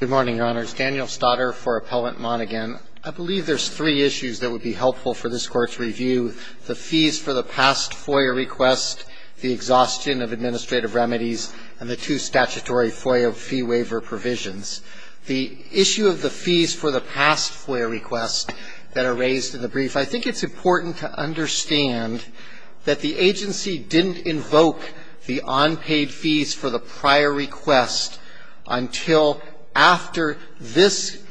Good morning, Your Honors. Daniel Staudter for Appellant Monaghan. I believe there's three issues that would be helpful for this Court's review. The fees for the past FOIA request, the exhaustion of administrative remedies, and the two statutory FOIA fee waiver provisions. The issue of the fees for the past FOIA request that are raised in the brief, I think it's important to understand that the agency didn't invoke the unpaid fees for the prior request until after this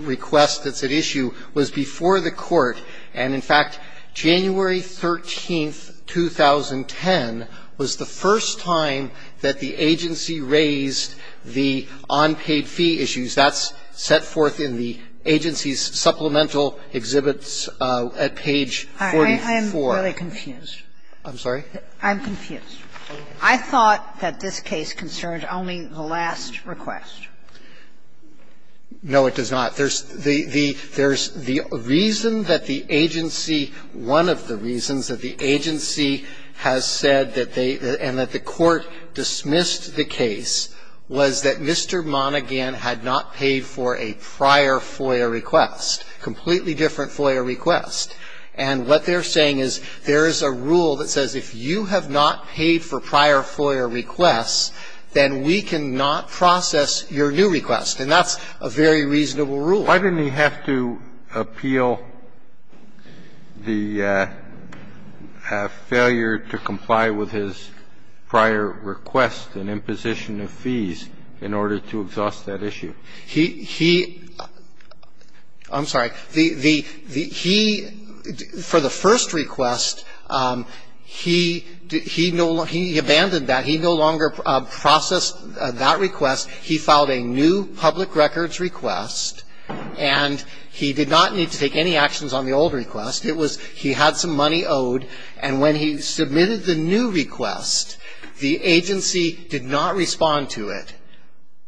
request that's at issue was before the Court. And, in fact, January 13, 2010, was the first time that the agency raised the unpaid fee issues. That's set forth in the agency's supplemental exhibits at page 44. Sotomayor, I'm really confused. I'm sorry? I'm confused. I thought that this case concerned only the last request. No, it does not. There's the reason that the agency one of the reasons that the agency has said that they and that the Court dismissed the case was that Mr. Monaghan had not paid for a prior FOIA request, completely different FOIA request. And what they're saying is there is a rule that says if you have not paid for prior FOIA requests, then we cannot process your new request. And that's a very reasonable rule. Why didn't he have to appeal the failure to comply with his prior request and imposition of fees in order to exhaust that issue? He he I'm sorry. He for the first request, he abandoned that. He no longer processed that request. He filed a new public records request. And he did not need to take any actions on the old request. It was he had some money owed. And when he submitted the new request, the agency did not respond to it.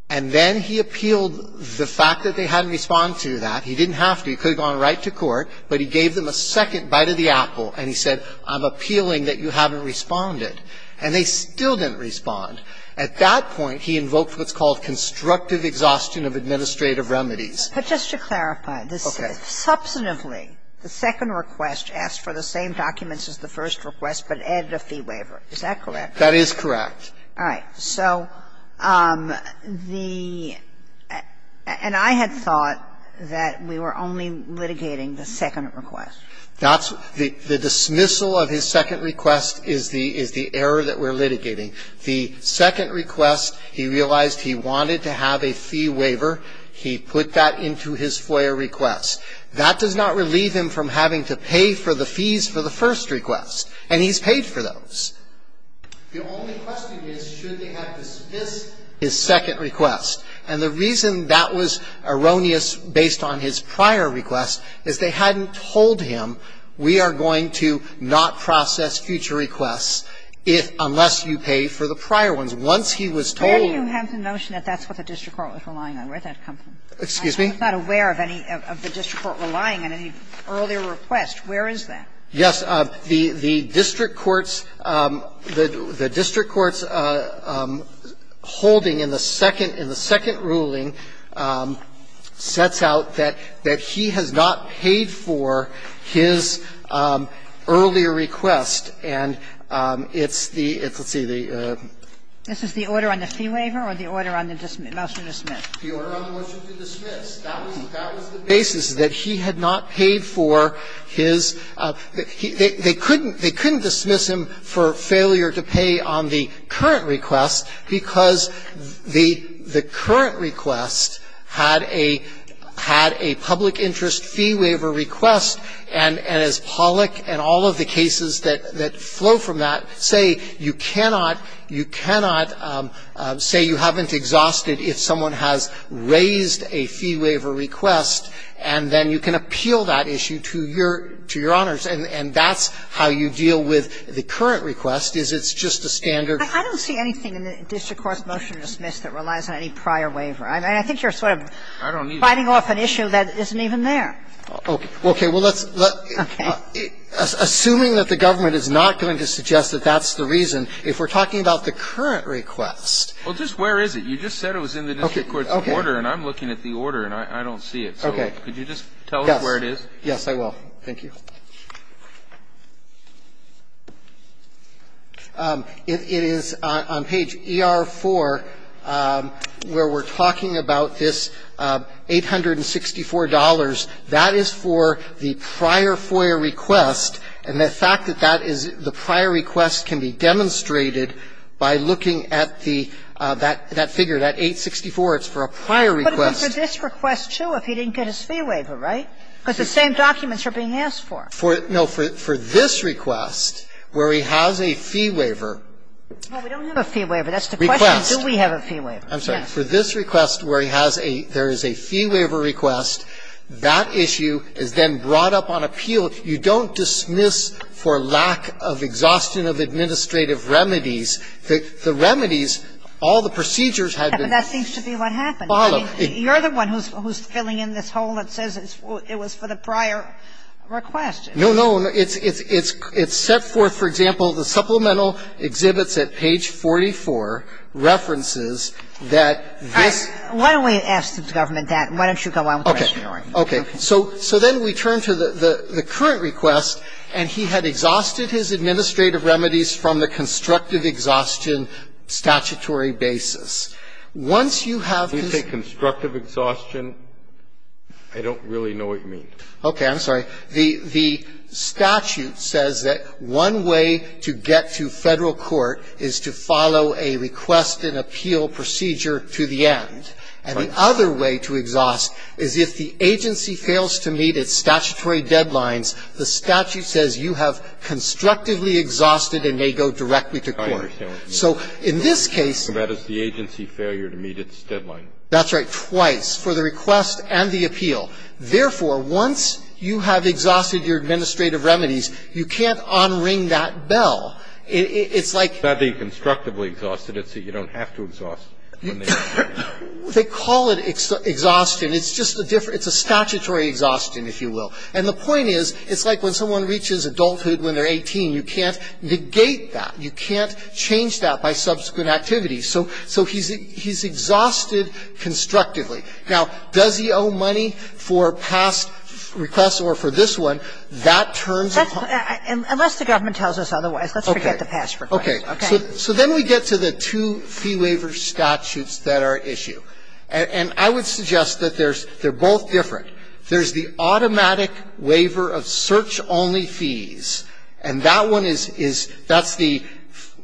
And then he appealed the fact that they hadn't responded to that. He didn't have to. He could have gone right to court. But he gave them a second bite of the apple. And he said, I'm appealing that you haven't responded. And they still didn't respond. At that point, he invoked what's called constructive exhaustion of administrative remedies. But just to clarify. Okay. Substantively, the second request asked for the same documents as the first request, but added a fee waiver. Is that correct? That is correct. All right. So the and I had thought that we were only litigating the second request. That's the dismissal of his second request is the error that we're litigating. The second request, he realized he wanted to have a fee waiver. He put that into his FOIA request. That does not relieve him from having to pay for the fees for the first request. And he's paid for those. The only question is, should they have dismissed his second request? And the reason that was erroneous based on his prior request is they hadn't told him, we are going to not process future requests if unless you pay for the prior ones. Once he was told. Where do you have the notion that that's what the district court was relying on? Where did that come from? Excuse me? I'm not aware of any of the district court relying on any earlier request. Where is that? Yes. The district court's holding in the second ruling sets out that he has not paid for his earlier request. And it's the, let's see, the. This is the order on the fee waiver or the order on the motion to dismiss? The order on the motion to dismiss. That was the basis, that he had not paid for his. They couldn't dismiss him for failure to pay on the current request because the current request had a public interest fee waiver request. And as Pollack and all of the cases that flow from that say, you cannot, you cannot say you haven't exhausted if someone has raised a fee waiver request and then you can appeal that issue to your, to your honors. And that's how you deal with the current request is it's just a standard. I don't see anything in the district court's motion to dismiss that relies on any prior waiver. I mean, I think you're sort of fighting off an issue that isn't even there. Okay. Well, let's. Okay. Assuming that the government is not going to suggest that that's the reason, if we're talking about the current request. Well, just where is it? You just said it was in the district court's order. Okay. And I'm looking at the order and I don't see it. Okay. Could you just tell us where it is? Yes. Yes, I will. Thank you. It is on page ER-4 where we're talking about this $864. That is for the prior FOIA request and the fact that that is the prior request can be demonstrated by looking at the, that figure, that 864, it's for a prior request. But it would be for this request, too, if he didn't get his fee waiver, right? Because the same documents are being asked for. For, no, for this request where he has a fee waiver. Well, we don't have a fee waiver. That's the question. Request. Do we have a fee waiver? I'm sorry. For this request where he has a, there is a fee waiver request. That issue is then brought up on appeal. You don't dismiss for lack of exhaustion of administrative remedies. The remedies, all the procedures have been followed. But that seems to be what happened. You're the one who's filling in this hole that says it was for the prior request. No, no. It's set forth, for example, the supplemental exhibits at page 44 references that this. All right. Why don't we ask the government that? Why don't you go on with the question? Okay. Okay. So then we turn to the current request. And he had exhausted his administrative remedies from the constructive exhaustion statutory basis. Once you have this. When you say constructive exhaustion, I don't really know what you mean. I'm sorry. The statute says that one way to get to Federal court is to follow a request and appeal procedure to the end. Right. And the other way to exhaust is if the agency fails to meet its statutory deadlines, the statute says you have constructively exhausted and may go directly to court. I understand what you mean. So in this case. That is the agency failure to meet its deadline. That's right. Twice, for the request and the appeal. Therefore, once you have exhausted your administrative remedies, you can't on-ring that bell. It's like. It's not being constructively exhausted. It's that you don't have to exhaust. They call it exhaustion. It's just a different. It's a statutory exhaustion, if you will. And the point is, it's like when someone reaches adulthood when they're 18. You can't negate that. You can't change that by subsequent activities. So he's exhausted constructively. Now, does he owe money for past requests or for this one? That turns. Unless the government tells us otherwise. Let's forget the past requests. Okay. So then we get to the two fee waiver statutes that are at issue. And I would suggest that they're both different. There's the automatic waiver of search-only fees. And that one is, that's the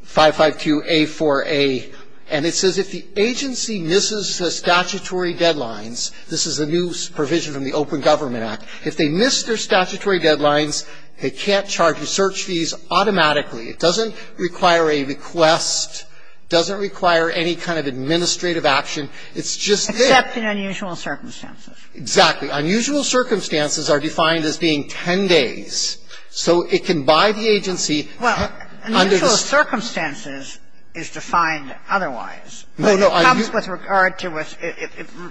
552A4A. And it says if the agency misses the statutory deadlines, this is a new provision from the Open Government Act. If they miss their statutory deadlines, they can't charge the search fees automatically. It doesn't require a request. It doesn't require any kind of administrative action. It's just that. Except in unusual circumstances. Exactly. Unusual circumstances are defined as being 10 days. So it can, by the agency, under the statute. Well, unusual circumstances is defined otherwise. No, no. It comes with regard to if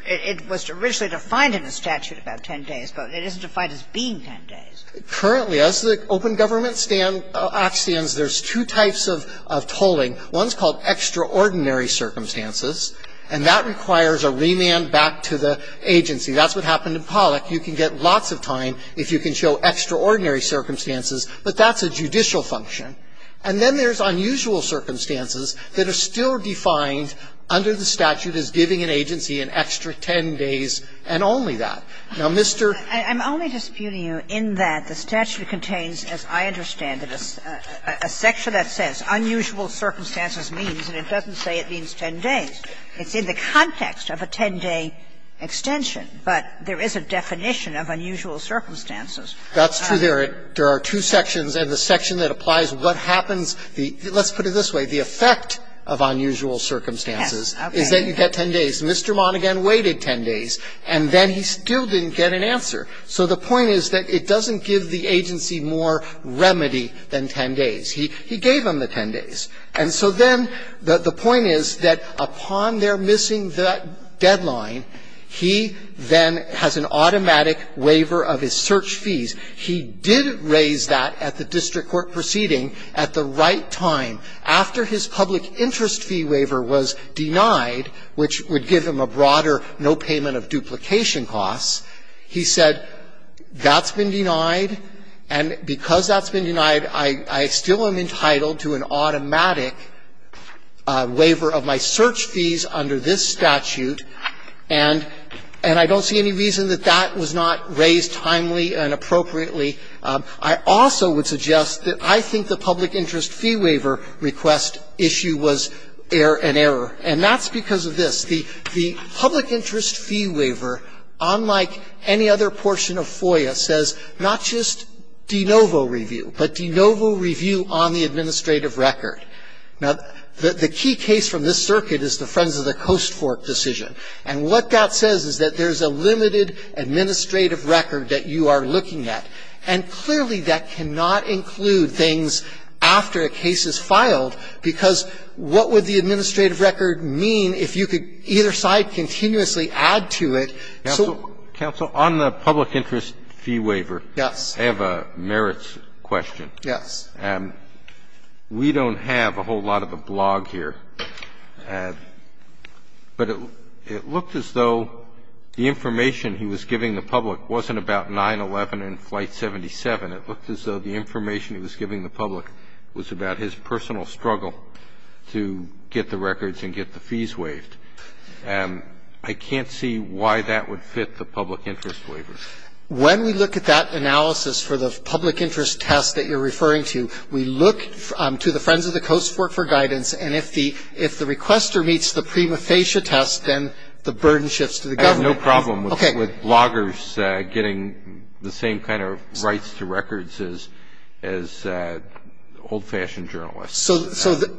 it was originally defined in the statute about 10 days, but it isn't defined as being 10 days. Currently, as the Open Government Act stands, there's two types of tolling. One is called extraordinary circumstances. And that requires a remand back to the agency. That's what happened in Pollack. You can get lots of time if you can show extraordinary circumstances. But that's a judicial function. And then there's unusual circumstances that are still defined under the statute as giving an agency an extra 10 days and only that. Now, Mr. ---- I'm only disputing you in that the statute contains, as I understand it, a section that says unusual circumstances means, and it doesn't say it means 10 days. It's in the context of a 10-day extension. But there is a definition of unusual circumstances. That's true. There are two sections. And the section that applies what happens, let's put it this way. The effect of unusual circumstances is that you get 10 days. Mr. Monaghan waited 10 days, and then he still didn't get an answer. So the point is that it doesn't give the agency more remedy than 10 days. He gave him the 10 days. And so then the point is that upon their missing the deadline, he then has an automatic waiver of his search fees. He did raise that at the district court proceeding at the right time. After his public interest fee waiver was denied, which would give him a broader no payment of duplication costs, he said, that's been denied, and because that's been denied, I still am entitled to an automatic waiver of my search fees under this statute, and I don't see any reason that that was not raised timely and appropriately. I also would suggest that I think the public interest fee waiver should have been a public interest fee waiver, and that's because of this. The public interest fee waiver, unlike any other portion of FOIA, says not just de novo review, but de novo review on the administrative record. Now, the key case from this circuit is the Friends of the Coast Fork decision. And what that says is that there's a limited administrative record that you are looking at. And clearly, that cannot include things after a case is filed, because what would the administrative record mean if you could either side continuously add to it? So what? Roberts, on the public interest fee waiver, I have a merits question. Yes. We don't have a whole lot of a blog here, but it looked as though the information he was giving the public wasn't about 9-11 and Flight 77. It looked as though the information he was giving the public was about his personal struggle to get the records and get the fees waived. I can't see why that would fit the public interest waiver. When we look at that analysis for the public interest test that you're referring to, we look to the Friends of the Coast Fork for guidance, and if the requester meets the prima facie test, then the burden shifts to the government. I have no problem with bloggers getting the same kind of rights to records as old-fashioned journalists.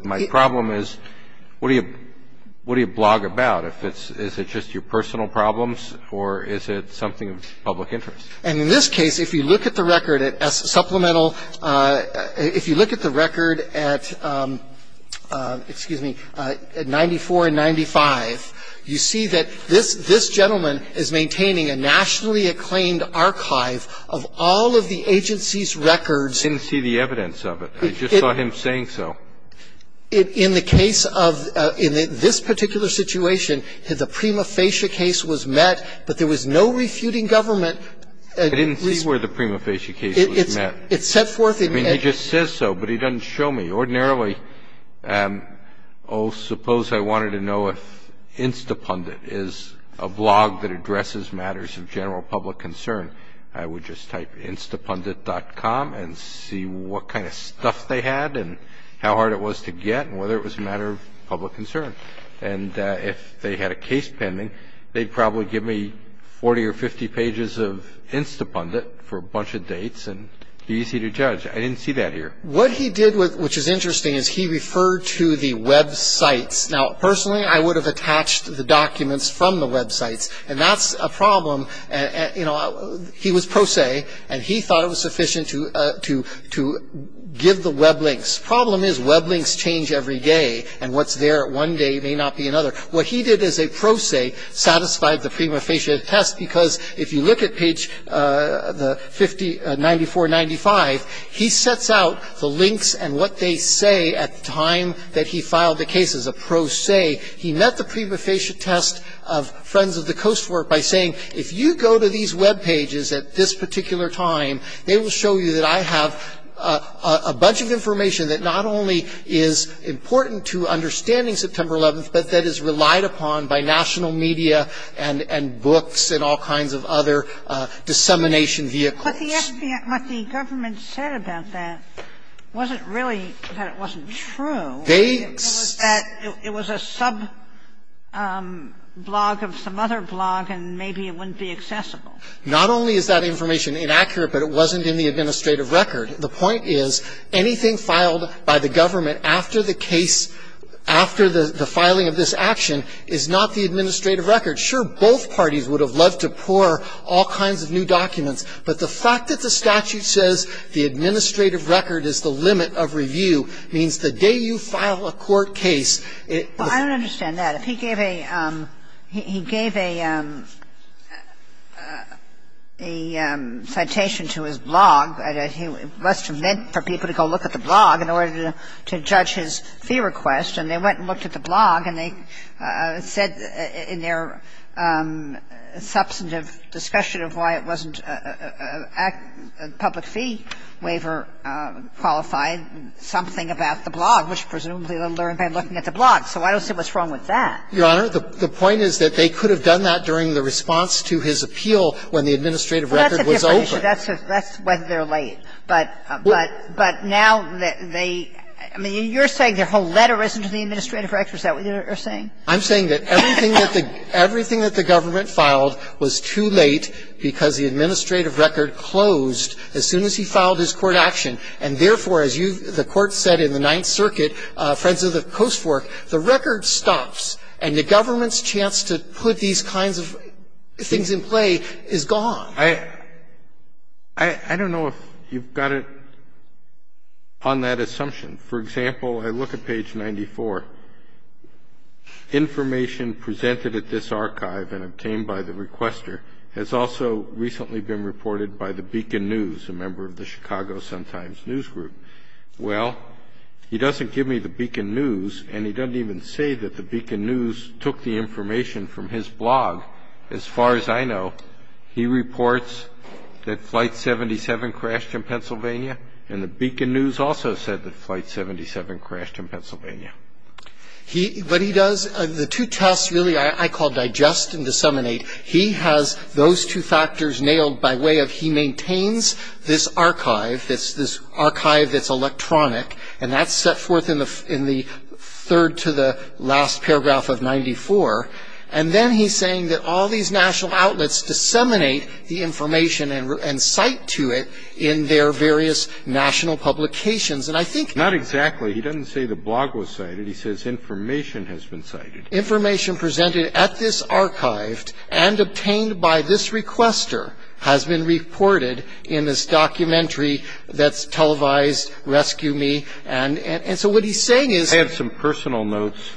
My problem is, what do you blog about? Is it just your personal problems, or is it something of public interest? And in this case, if you look at the record at supplemental – if you look at the record at – excuse me – at 94 and 95, you see that this gentleman is maintaining a nationally acclaimed archive of all of the agency's records. I didn't see the evidence of it. I just saw him saying so. In the case of – in this particular situation, the prima facie case was met, but there was no refuting government. I didn't see where the prima facie case was met. It's set forth in – I mean, he just says so, but he doesn't show me. Ordinarily, oh, suppose I wanted to know if Instapundit is a blog that addresses matters of general public concern. I would just type instapundit.com and see what kind of stuff they had and how hard it was to get and whether it was a matter of public concern. And if they had a case pending, they'd probably give me 40 or 50 pages of Instapundit for a bunch of dates and be easy to judge. I didn't see that here. What he did, which is interesting, is he referred to the websites. Now, personally, I would have attached the documents from the websites, and that's a problem. You know, he was pro se, and he thought it was sufficient to give the web links. Problem is, web links change every day, and what's there one day may not be another. What he did as a pro se satisfied the prima facie test, because if you look at page 94-95, he sets out the links and what they say at the time that he filed the case as a pro se. He met the prima facie test of Friends of the Coastwork by saying, if you go to these web pages at this particular time, they will show you that I have a bunch of information that not only is important to understanding September 11th, but that is relied upon by national media and books and all kinds of other dissemination vehicles. And what the government said about that wasn't really that it wasn't true. They sa- It was a sub-blog of some other blog, and maybe it wouldn't be accessible. Not only is that information inaccurate, but it wasn't in the administrative record. The point is, anything filed by the government after the case, after the filing of this action is not the administrative record. Sure, both parties would have loved to pour all kinds of new documents, but the fact that the statute says the administrative record is the limit of review means the day you file a court case, it- Well, I don't understand that. If he gave a citation to his blog, it must have meant for people to go look at the blog in order to judge his fee request. And they went and looked at the blog, and they said in their substantive discussion of why it wasn't a public fee waiver qualified, something about the blog, which presumably they learned by looking at the blog. So I don't see what's wrong with that. Your Honor, the point is that they could have done that during the response to his appeal when the administrative record was open. Well, that's a different issue. That's whether they're late. But, but now, they – I mean, you're saying their whole letter isn't in the administrative record, is that what you're saying? I'm saying that everything that the government filed was too late because the administrative record closed as soon as he filed his court action, and therefore, as you've – the Court said in the Ninth Circuit, Friends of the Coast Fork, the record stops and the government's chance to put these kinds of things in play is gone. I don't know if you've got it on that assumption. For example, I look at page 94. Information presented at this archive and obtained by the requester has also recently been reported by the Beacon News, a member of the Chicago Sun-Times News Group. Well, he doesn't give me the Beacon News, and he doesn't even say that the Beacon News took the information from his blog. As far as I know, he reports that Flight 77 crashed in Pennsylvania, and the Beacon News also said that Flight 77 crashed in Pennsylvania. He – what he does – the two tests, really, I call digest and disseminate. He has those two factors nailed by way of – he maintains this archive, this archive that's electronic, and that's set forth in the third to the last paragraph of 94. And then he's saying that all these national outlets disseminate the information and cite to it in their various national publications. And I think – Not exactly. He doesn't say the blog was cited. He says information has been cited. Information presented at this archive and obtained by this requester has been reported in this documentary that's televised, Rescue Me. And so what he's saying is – I have some personal notes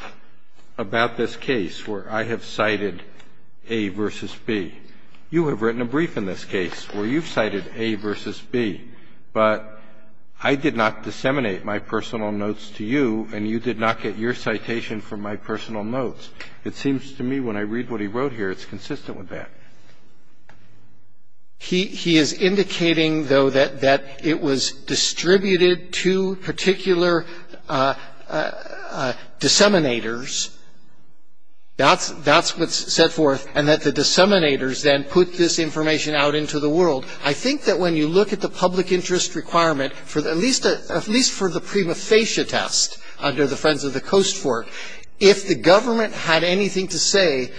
about this case where I have cited A versus B. You have written a brief in this case where you've cited A versus B, but I did not disseminate my personal notes to you, and you did not get your citation from my personal notes. It seems to me when I read what he wrote here, it's consistent with that. He is indicating, though, that it was distributed to particular disseminators. That's what's set forth, and that the disseminators then put this information out into the world. I think that when you look at the public interest requirement, at least for the prima facie test under the Friends of the Coast Fork, if the government had anything to say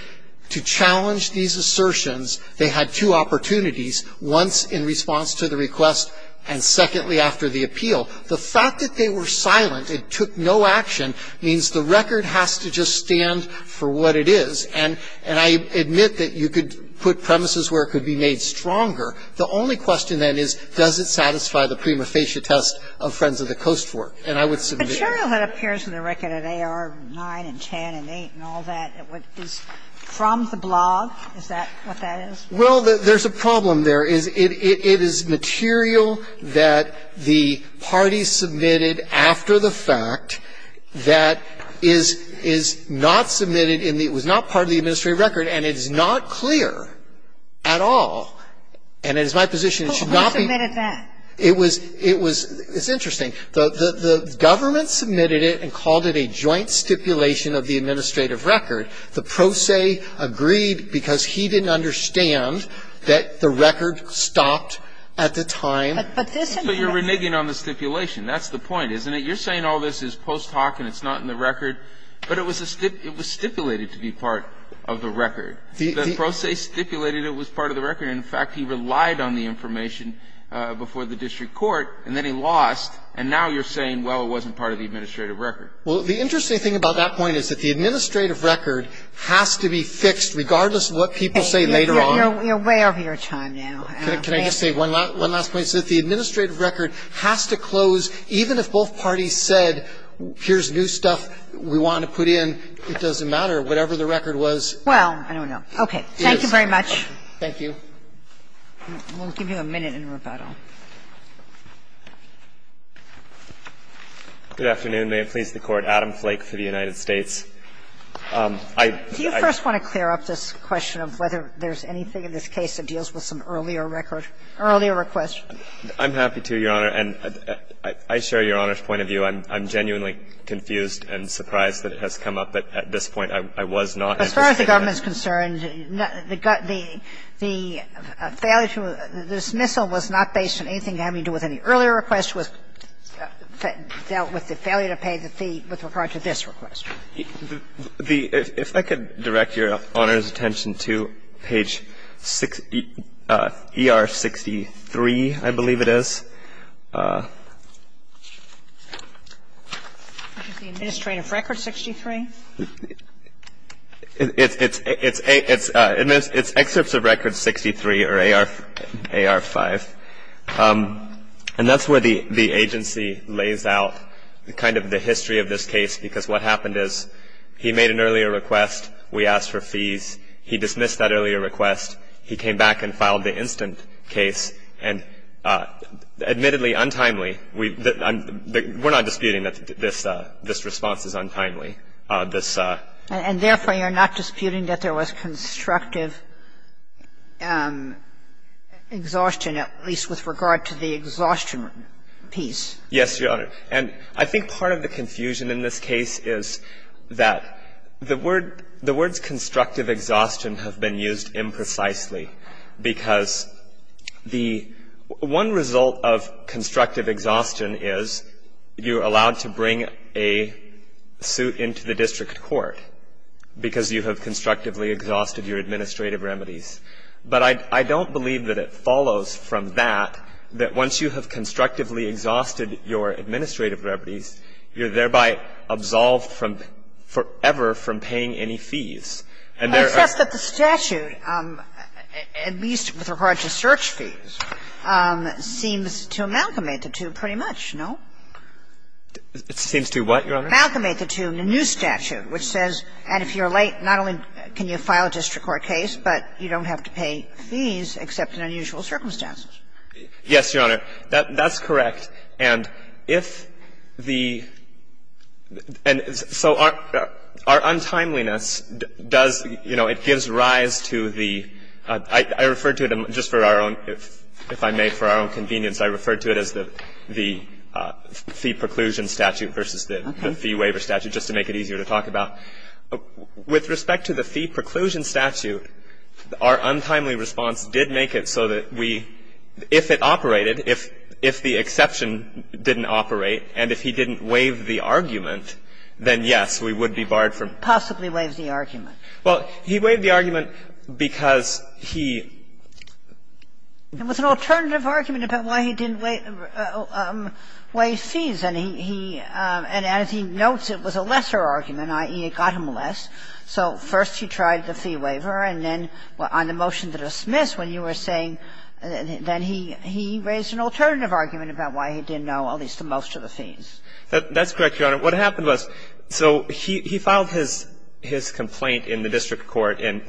to challenge these assertions, they had two opportunities, once in response to the request and secondly after the appeal. The fact that they were silent and took no action means the record has to just stand for what it is. And I admit that you could put premises where it could be made stronger. The only question then is, does it satisfy the prima facie test of Friends of the Coast Fork? And I would submit that. Kagan. It appears in the record that AR9 and 10 and 8 and all that is from the blog. Is that what that is? Well, there's a problem there is it is material that the party submitted after the fact that is not submitted in the ‑‑ it was not part of the administrative record and it is not clear at all. And it is my position it should not be ‑‑ Who submitted that? It was ‑‑ it's interesting. The government submitted it and called it a joint stipulation of the administrative record. The pro se agreed because he didn't understand that the record stopped at the time. But this ‑‑ But you're reneging on the stipulation. That's the point, isn't it? You're saying all this is post hoc and it's not in the record. But it was stipulated to be part of the record. The pro se stipulated it was part of the record. In fact, he relied on the information before the district court and then he lost and now you're saying, well, it wasn't part of the administrative record. Well, the interesting thing about that point is that the administrative record has to be fixed regardless of what people say later on. You're way over your time now. Can I just say one last point? The administrative record has to close even if both parties said, here's new stuff we want to put in, it doesn't matter, whatever the record was. Well, I don't know. Okay. Thank you very much. Thank you. We'll give you a minute in rebuttal. Good afternoon. May it please the Court. Adam Flake for the United States. Do you first want to clear up this question of whether there's anything in this case that deals with some earlier record ‑‑ earlier request? I'm happy to, Your Honor, and I share Your Honor's point of view. I'm genuinely confused and surprised that it has come up at this point. I was not anticipating it. As far as the government is concerned, the failure to ‑‑ the dismissal was not based on anything having to do with any earlier request. It dealt with the failure to pay the fee with regard to this request. If I could direct Your Honor's attention to page ER63, I believe it is. Administrative record 63. It's excerpts of record 63 or AR5. And that's where the agency lays out kind of the history of this case, because what happened is he made an earlier request. We asked for fees. He dismissed that earlier request. He came back and filed the instant case. And admittedly, untimely, we're not disputing that this response is untimely. And therefore, you're not disputing that there was constructive exhaustion, at least with regard to the exhaustion piece? Yes, Your Honor. And I think part of the confusion in this case is that the words constructive exhaustion have been used imprecisely, because the one result of constructive exhaustion is you're allowed to bring a suit into the district court, because you have constructively exhausted your administrative remedies. But I don't believe that it follows from that, that once you have constructively exhausted your administrative remedies, you're thereby absolved from forever from paying any fees. And there are ---- Except that the statute, at least with regard to search fees, seems to amalgamate the two pretty much, no? It seems to what, Your Honor? Amalgamate the two in a new statute, which says, and if you're late, not only can you file a district court case, but you don't have to pay fees, except in unusual circumstances. Yes, Your Honor. That's correct. And if the ---- and so our untimeliness does, you know, it gives rise to the ---- I referred to it just for our own, if I may, for our own convenience, I referred to it as the fee preclusion statute versus the fee waiver statute, just to make it easier to talk about. With respect to the fee preclusion statute, our untimely response did make it so that we, if it operated, if the exception didn't operate, and if he didn't waive the argument, then, yes, we would be barred from ---- Possibly waive the argument. Well, he waived the argument because he ---- It was an alternative argument about why he didn't waive fees, and he ---- and as he notes, it was a lesser argument, i.e., it got him less. So first he tried the fee waiver, and then on the motion to dismiss, when you were saying, then he raised an alternative argument about why he didn't know at least the most of the fees. That's correct, Your Honor. What happened was, so he filed his complaint in the district court in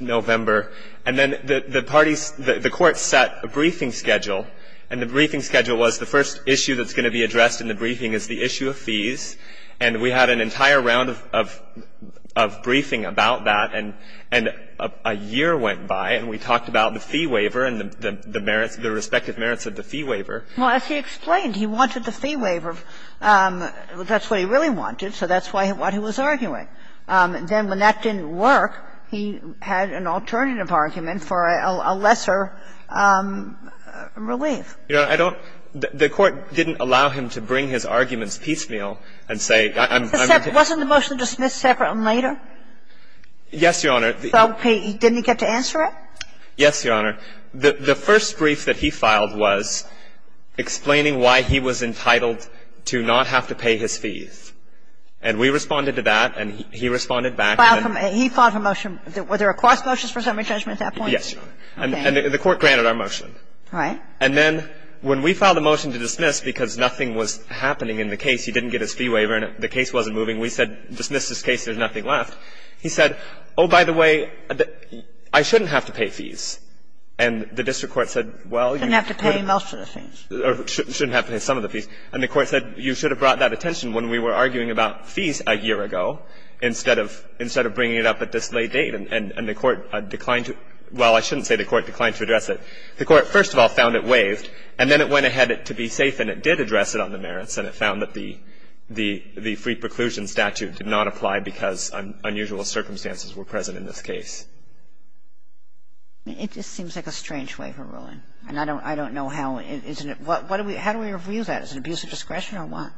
November, and then the parties ---- the court set a briefing schedule, and the briefing schedule was the first issue that's going to be addressed in the briefing is the issue of fees, and we had an entire round of briefing about that, and a year went by, and we talked about the fee waiver and the merits, the respective merits of the fee waiver. Well, as he explained, he wanted the fee waiver. That's what he really wanted, so that's what he was arguing. Then when that didn't work, he had an alternative argument for a lesser relief. You know, I don't ---- the court didn't allow him to bring his arguments piecemeal and say, I'm going to ---- Wasn't the motion to dismiss separate and later? Yes, Your Honor. So he didn't get to answer it? Yes, Your Honor. The first brief that he filed was explaining why he was entitled to not have to pay his fees. And we responded to that, and he responded back. He filed a motion. Were there a cross motion for summary judgment at that point? Yes, Your Honor. And the court granted our motion. All right. And then when we filed a motion to dismiss because nothing was happening in the case, he didn't get his fee waiver, and the case wasn't moving, we said dismiss this case, there's nothing left. He said, oh, by the way, I shouldn't have to pay fees. And the district court said, well, you ---- Shouldn't have to pay most of the fees. Or shouldn't have to pay some of the fees. And the court said, you should have brought that attention when we were arguing about fees a year ago instead of bringing it up at this late date. And the court declined to ---- well, I shouldn't say the court declined to address it. The court, first of all, found it waived, and then it went ahead to be safe and it did address it on the merits, and it found that the free preclusion statute did not apply because unusual circumstances were present in this case. It just seems like a strange waiver ruling. And I don't know how, isn't it? What do we ---- how do we review that? Is it abuse of discretion or what?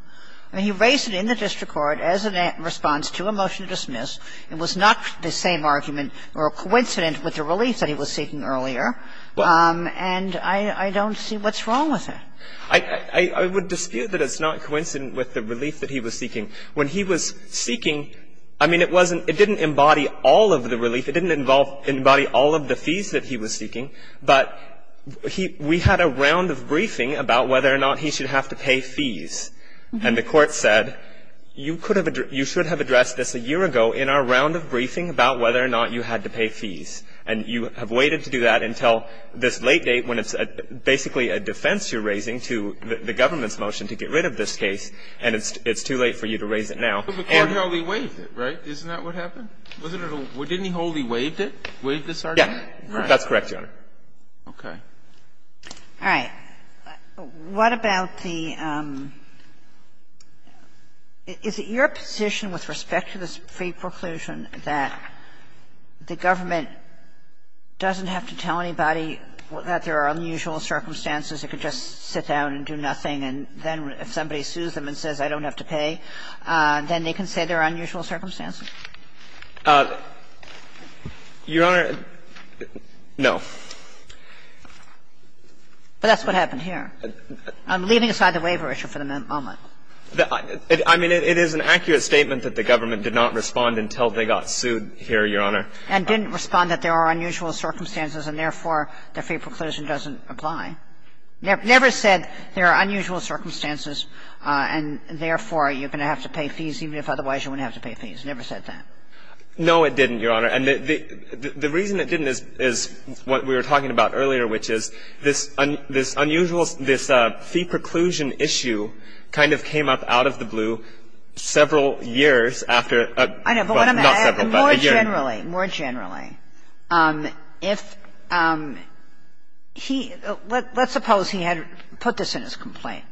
I mean, he raised it in the district court as a response to a motion to dismiss. It was not the same argument or coincident with the relief that he was seeking earlier, and I don't see what's wrong with it. I would dispute that it's not coincident with the relief that he was seeking. When he was seeking, I mean, it wasn't ---- it didn't embody all of the relief. It didn't involve ---- embody all of the fees that he was seeking. But he ---- we had a round of briefing about whether or not he should have to pay fees. And the Court said, you could have ---- you should have addressed this a year ago in our round of briefing about whether or not you had to pay fees. And you have waited to do that until this late date when it's basically a defense you're raising to the government's motion to get rid of this case, and it's too late for you to raise it now. And ---- But the Court wholly waived it, right? Isn't that what happened? Wasn't it a ---- didn't he wholly waived it, waived this argument? Yes. That's correct, Your Honor. Okay. All right. What about the ---- is it your position with respect to this fee preclusion that the government doesn't have to tell anybody that there are unusual circumstances, it could just sit down and do nothing, and then if somebody sues them and says, I don't have to pay, then they can say there are unusual circumstances? Your Honor, no. But that's what happened here. I'm leaving aside the waiver issue for the moment. I mean, it is an accurate statement that the government did not respond until they got sued here, Your Honor. And didn't respond that there are unusual circumstances and, therefore, the fee preclusion doesn't apply. Never said there are unusual circumstances and, therefore, you're going to have to pay fees even if otherwise you wouldn't have to pay fees. Never said that. No, it didn't, Your Honor. And the reason it didn't is what we were talking about earlier, which is this unusual ---- this fee preclusion issue kind of came up out of the blue several years after a ---- not several, but a year. I know. But more generally, more generally, if he ---- let's suppose he had put this in his statute,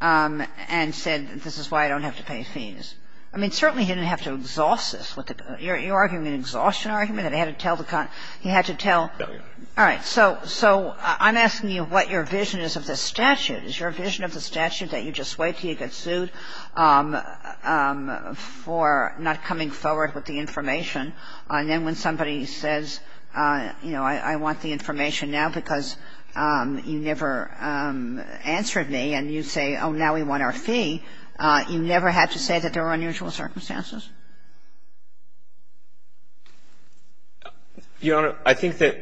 and he said, I don't have to pay fees. I mean, certainly he didn't have to exhaust this. You're arguing an exhaustion argument that he had to tell the ---- he had to tell ---- No, Your Honor. All right. So I'm asking you what your vision is of this statute. Is your vision of the statute that you just wait until you get sued for not coming forward with the information, and then when somebody says, you know, I want the information now because you never answered me, and you say, oh, now we want our fee, you never had to say that there were unusual circumstances? Your Honor, I think that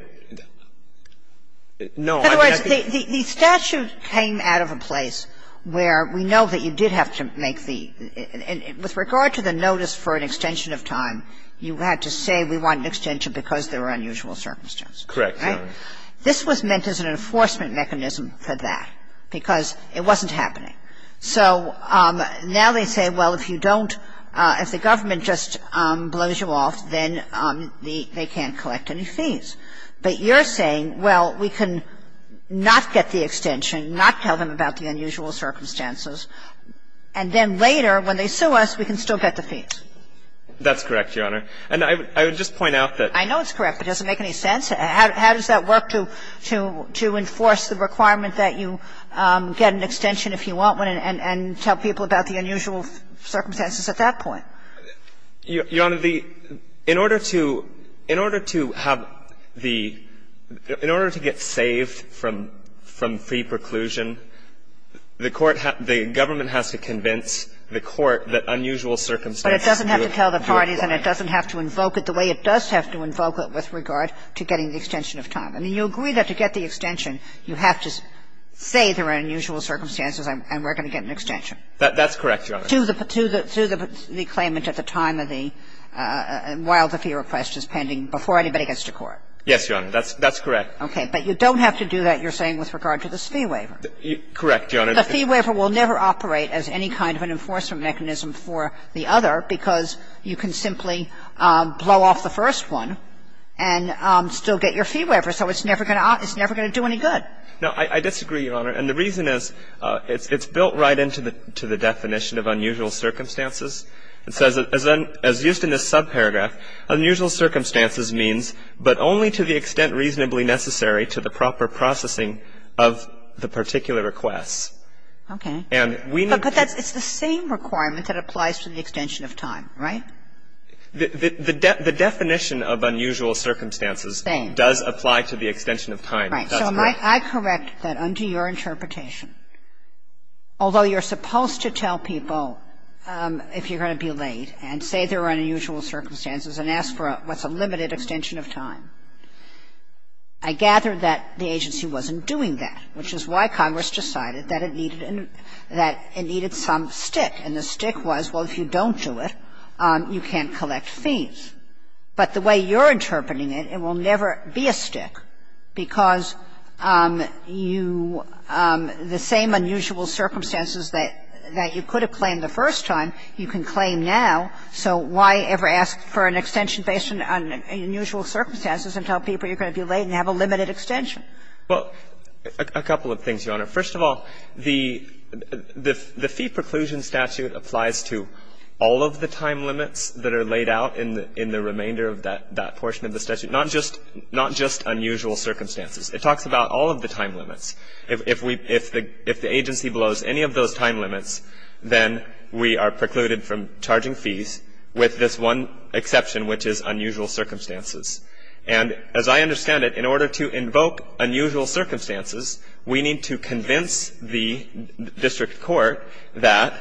---- In other words, the statute came out of a place where we know that you did have to make the ---- and with regard to the notice for an extension of time, you had to say we want an extension because there were unusual circumstances. Right? This was meant as an enforcement mechanism for that because it wasn't happening. So now they say, well, if you don't ---- if the government just blows you off, then they can't collect any fees. But you're saying, well, we can not get the extension, not tell them about the unusual circumstances, and then later when they sue us, we can still get the fees. That's correct, Your Honor. And I would just point out that ---- So how does that work to enforce the requirement that you get an extension if you want one and tell people about the unusual circumstances at that point? Your Honor, the ---- in order to have the ---- in order to get saved from free preclusion, the court has to ---- the government has to convince the court that unusual circumstances do apply. But it doesn't have to tell the parties and it doesn't have to invoke it the way it does have to invoke it with regard to getting the extension of time. I mean, you agree that to get the extension, you have to say there are unusual circumstances and we're going to get an extension. That's correct, Your Honor. To the claimant at the time of the ---- while the fee request is pending, before anybody gets to court. Yes, Your Honor. That's correct. Okay. But you don't have to do that, you're saying, with regard to this fee waiver. Correct, Your Honor. The fee waiver will never operate as any kind of an enforcement mechanism for the other because you can simply blow off the first one and still get your fee waiver. So it's never going to do any good. No, I disagree, Your Honor. And the reason is it's built right into the definition of unusual circumstances. It says, as used in this subparagraph, unusual circumstances means but only to the extent reasonably necessary to the proper processing of the particular request. And we need to ---- The definition of unusual circumstances does apply to the extension of time, right? The definition of unusual circumstances does apply to the extension of time. Right. So I correct that under your interpretation, although you're supposed to tell people if you're going to be late and say there are unusual circumstances and ask for what's a limited extension of time, I gather that the agency wasn't doing that, which is why you can't do it, you can't collect fees. But the way you're interpreting it, it will never be a stick because you ---- the same unusual circumstances that you could have claimed the first time you can claim now. So why ever ask for an extension based on unusual circumstances and tell people you're going to be late and have a limited extension? Well, a couple of things, Your Honor. First of all, the fee preclusion statute applies to all of the time limits that are laid out in the remainder of that portion of the statute, not just unusual circumstances. It talks about all of the time limits. If the agency blows any of those time limits, then we are precluded from charging fees with this one exception, which is unusual circumstances. And as I understand it, in order to invoke unusual circumstances, we need to convince the district court that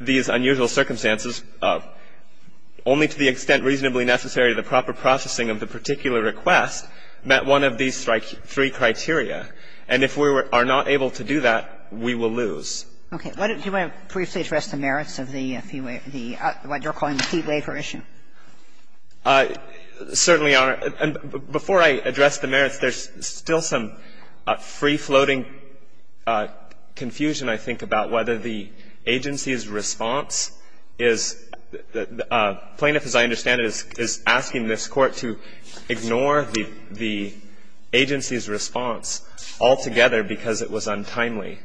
these unusual circumstances, only to the extent reasonably necessary to the proper processing of the particular request, met one of these three criteria. And if we are not able to do that, we will lose. Okay. Do you want to briefly address the merits of the fee waiver ---- what you're calling the fee waiver issue? Certainly, Your Honor. Before I address the merits, there's still some free-floating confusion, I think, about whether the agency's response is ---- the plaintiff, as I understand it, is asking this Court to ignore the agency's response altogether because it was untimely.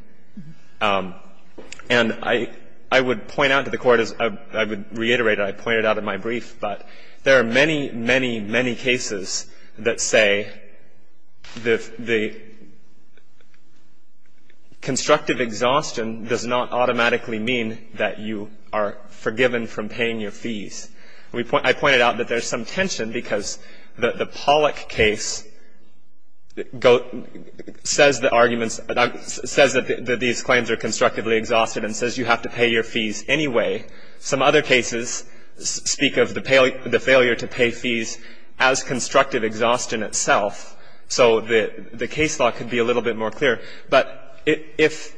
And I would point out to the Court as ---- I would reiterate what I pointed out in my brief, but there are many, many, many cases that say the constructive exhaustion does not automatically mean that you are forgiven from paying your fees. I pointed out that there's some tension because the Pollack case says the arguments that these claims are constructively exhausted and says you have to pay your fees anyway. Some other cases speak of the failure to pay fees as constructive exhaustion itself. So the case law could be a little bit more clear. But if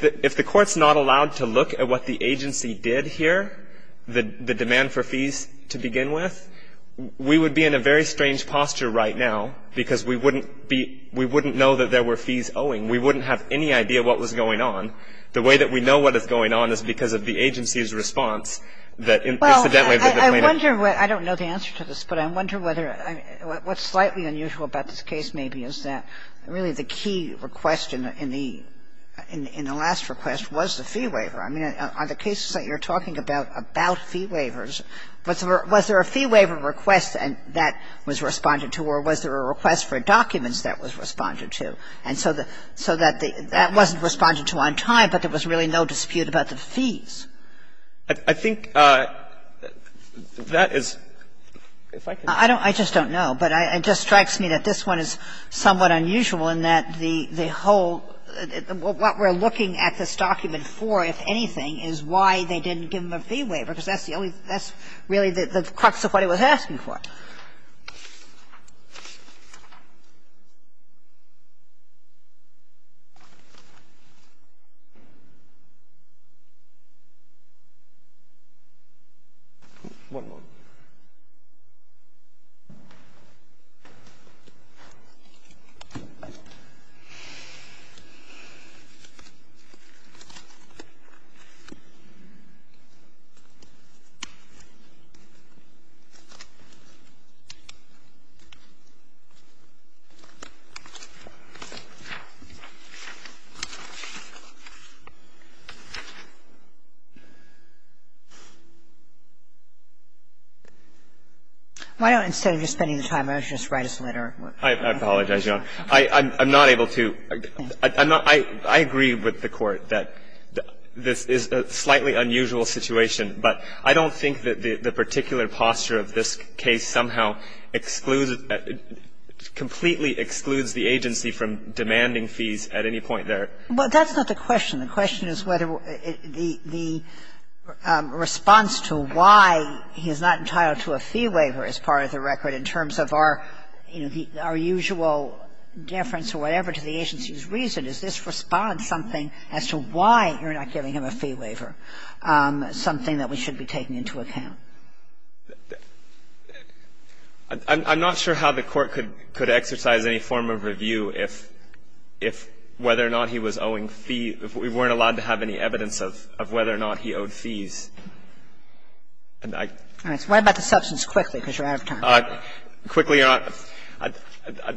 the Court's not allowed to look at what the agency did here, the demand for fees to begin with, we would be in a very strange posture right now because we wouldn't be ---- we wouldn't know that there were fees owing. We wouldn't have any idea what was going on. The way that we know what is going on is because of the agency's response that incidentally that the plaintiff ---- Kagan. Well, I wonder what ---- I don't know the answer to this, but I wonder whether ---- what's slightly unusual about this case maybe is that really the key request in the last request was the fee waiver. I mean, on the cases that you're talking about, about fee waivers, was there a fee that was responded to? And so the ---- so that the ---- that wasn't responded to on time, but there was really no dispute about the fees. I think that is ---- if I can ---- I don't ---- I just don't know. But I ---- it just strikes me that this one is somewhat unusual in that the whole ---- what we're looking at this document for, if anything, is why they didn't give them a fee waiver, because that's the only ---- that's really the crux of what it was asking for. Okay. One moment. Why don't, instead of just spending the time, why don't you just write us a letter? I apologize, Your Honor. I'm not able to ---- I'm not ---- I agree with the Court that this is a slightly unusual situation, but I don't think that the particular posture of this case somehow excludes ---- completely excludes the agency from demanding fees at any point there. Well, that's not the question. The question is whether the response to why he is not entitled to a fee waiver as part of the record in terms of our, you know, our usual deference or whatever to the agency's reason. Is this response something as to why you're not giving him a fee waiver, something that we should be taking into account? I'm not sure how the Court could exercise any form of review if whether or not he was owing fees, if we weren't allowed to have any evidence of whether or not he owed fees. And I ---- All right. So what about the substance quickly, because you're out of time? Quickly or not,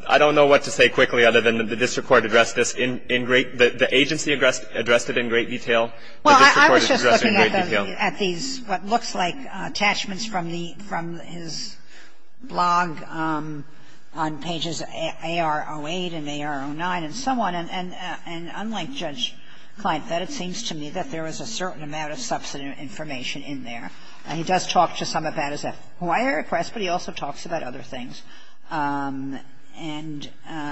I don't know what to say quickly other than the district court addressed this in great ---- the agency addressed it in great detail, the district court addressed it in great detail. At these what looks like attachments from the ---- from his blog on pages AR-08 and AR-09 and so on, and unlike Judge Kleinfeld, it seems to me that there was a certain amount of substantive information in there. And he does talk to some of that as a FOIA request, but he also talks about other things, and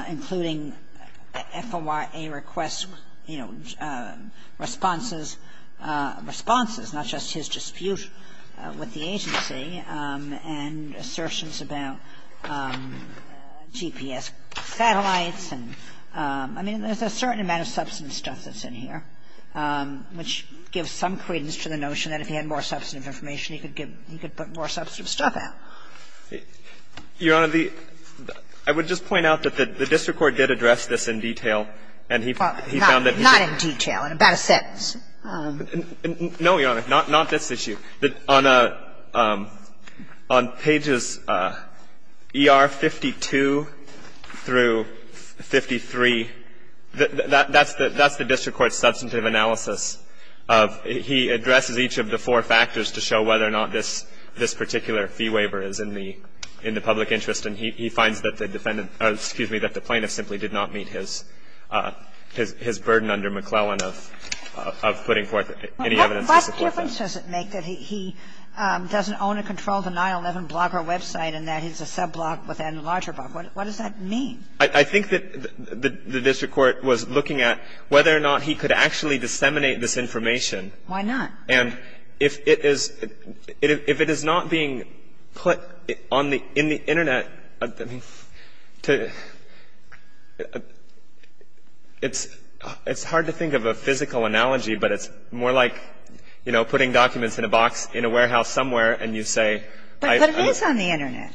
including FOIA requests, you know, responses, not just his dispute with the agency, and assertions about GPS satellites and, I mean, there's a certain amount of substantive stuff that's in here, which gives some credence to the notion that if he had more substantive information, he could give ---- he could put more substantive stuff out. Your Honor, the ---- I would just point out that the district court did address this in detail, and he found that he did. Well, not in detail, in about a sentence. No, Your Honor, not this issue. On pages ER-52 through 53, that's the district court's substantive analysis of he addresses each of the four factors to show whether or not this particular fee waiver is in the public interest. And he finds that the defendant or, excuse me, that the plaintiff simply did not meet his burden under McClellan of putting forth any evidence to support that. What difference does it make that he doesn't own and control the 9-11 blogger website and that he's a sub-blogger with any larger blogger? What does that mean? I think that the district court was looking at whether or not he could actually disseminate this information. Why not? And if it is not being put on the ---- in the Internet, to ---- it's hard to think of a physical analogy, but it's more like, you know, putting documents in a box in a warehouse somewhere and you say ---- But it is on the Internet.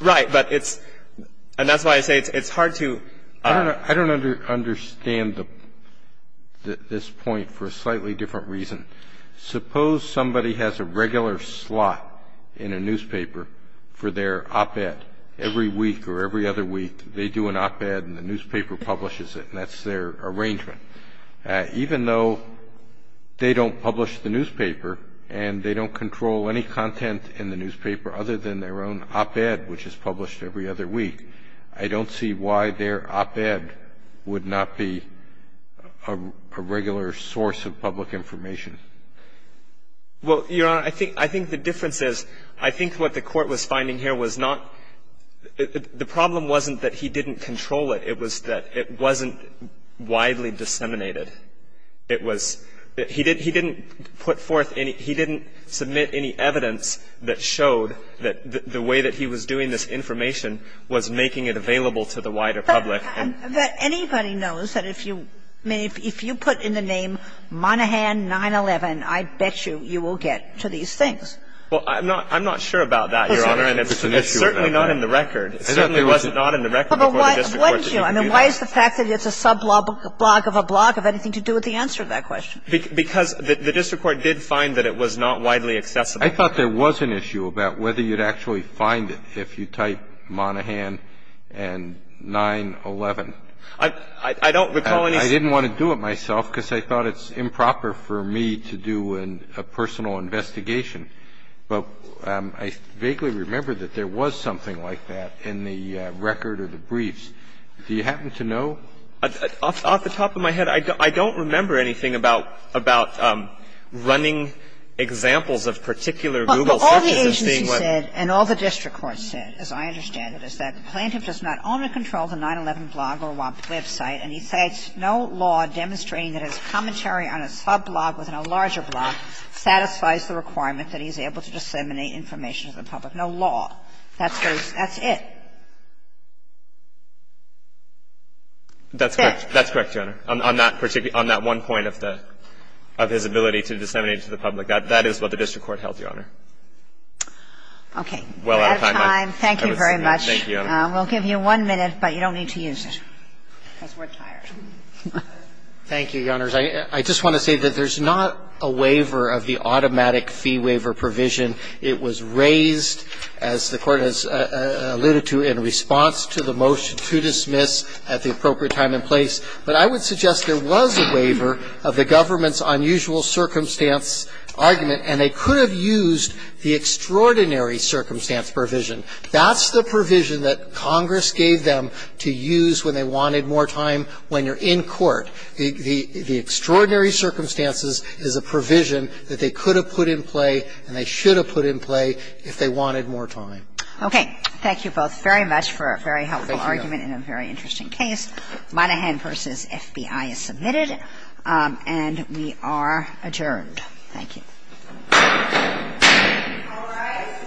Right. But it's ---- and that's why I say it's hard to ---- I don't understand this point for a slightly different reason. Suppose somebody has a regular slot in a newspaper for their op-ed. Every week or every other week, they do an op-ed and the newspaper publishes it, and that's their arrangement. Even though they don't publish the newspaper and they don't control any content in the newspaper other than their own op-ed, which is published every other week, I don't see why their op-ed would not be a regular source of public information. Well, Your Honor, I think the difference is, I think what the court was finding here was not ---- the problem wasn't that he didn't control it. It was that it wasn't widely disseminated. It was that he didn't put forth any ---- he didn't submit any evidence that showed that the way that he was doing this information was making it available to the wider public. But anybody knows that if you put in the name Monaghan 9-11, I bet you, you will get to these things. Well, I'm not sure about that, Your Honor, and it's certainly not in the record. It certainly was not in the record before the district court ---- But why isn't it? I mean, why is the fact that it's a sub-blog of a blog have anything to do with the answer to that question? Because the district court did find that it was not widely accessible. I thought there was an issue about whether you'd actually find it if you type Monaghan and 9-11. I don't recall any ---- I didn't want to do it myself because I thought it's improper for me to do a personal investigation. But I vaguely remember that there was something like that in the record or the briefs. Do you happen to know? Off the top of my head, I don't remember anything about running examples of particular Google searches as being what ---- But all the agency said and all the district court said, as I understand it, is that the plaintiff does not own or control the 9-11 blog or website, and he states no law demonstrating that his commentary on a sub-blog within a larger blog satisfies the requirement that he's able to disseminate information to the public. No law. That's what he says. That's it. That's correct. That's correct, Your Honor. On that particular ---- on that one point of the ---- of his ability to disseminate to the public, that is what the district court held, Your Honor. Okay. We're out of time. Thank you very much. Thank you, Your Honor. We'll give you one minute, but you don't need to use it because we're tired. Thank you, Your Honors. I just want to say that there's not a waiver of the automatic fee waiver provision. It was raised, as the Court has alluded to, in response to the motion to dismiss at the appropriate time and place. But I would suggest there was a waiver of the government's unusual circumstance argument, and they could have used the extraordinary circumstance provision. That's the provision that Congress gave them to use when they wanted more time when you're in court. The extraordinary circumstances is a provision that they could have put in play and they should have put in play if they wanted more time. Okay. Thank you both very much for a very helpful argument and a very interesting case. Thank you, Your Honor. Monaghan v. FBI is submitted, and we are adjourned. Thank you. All rise.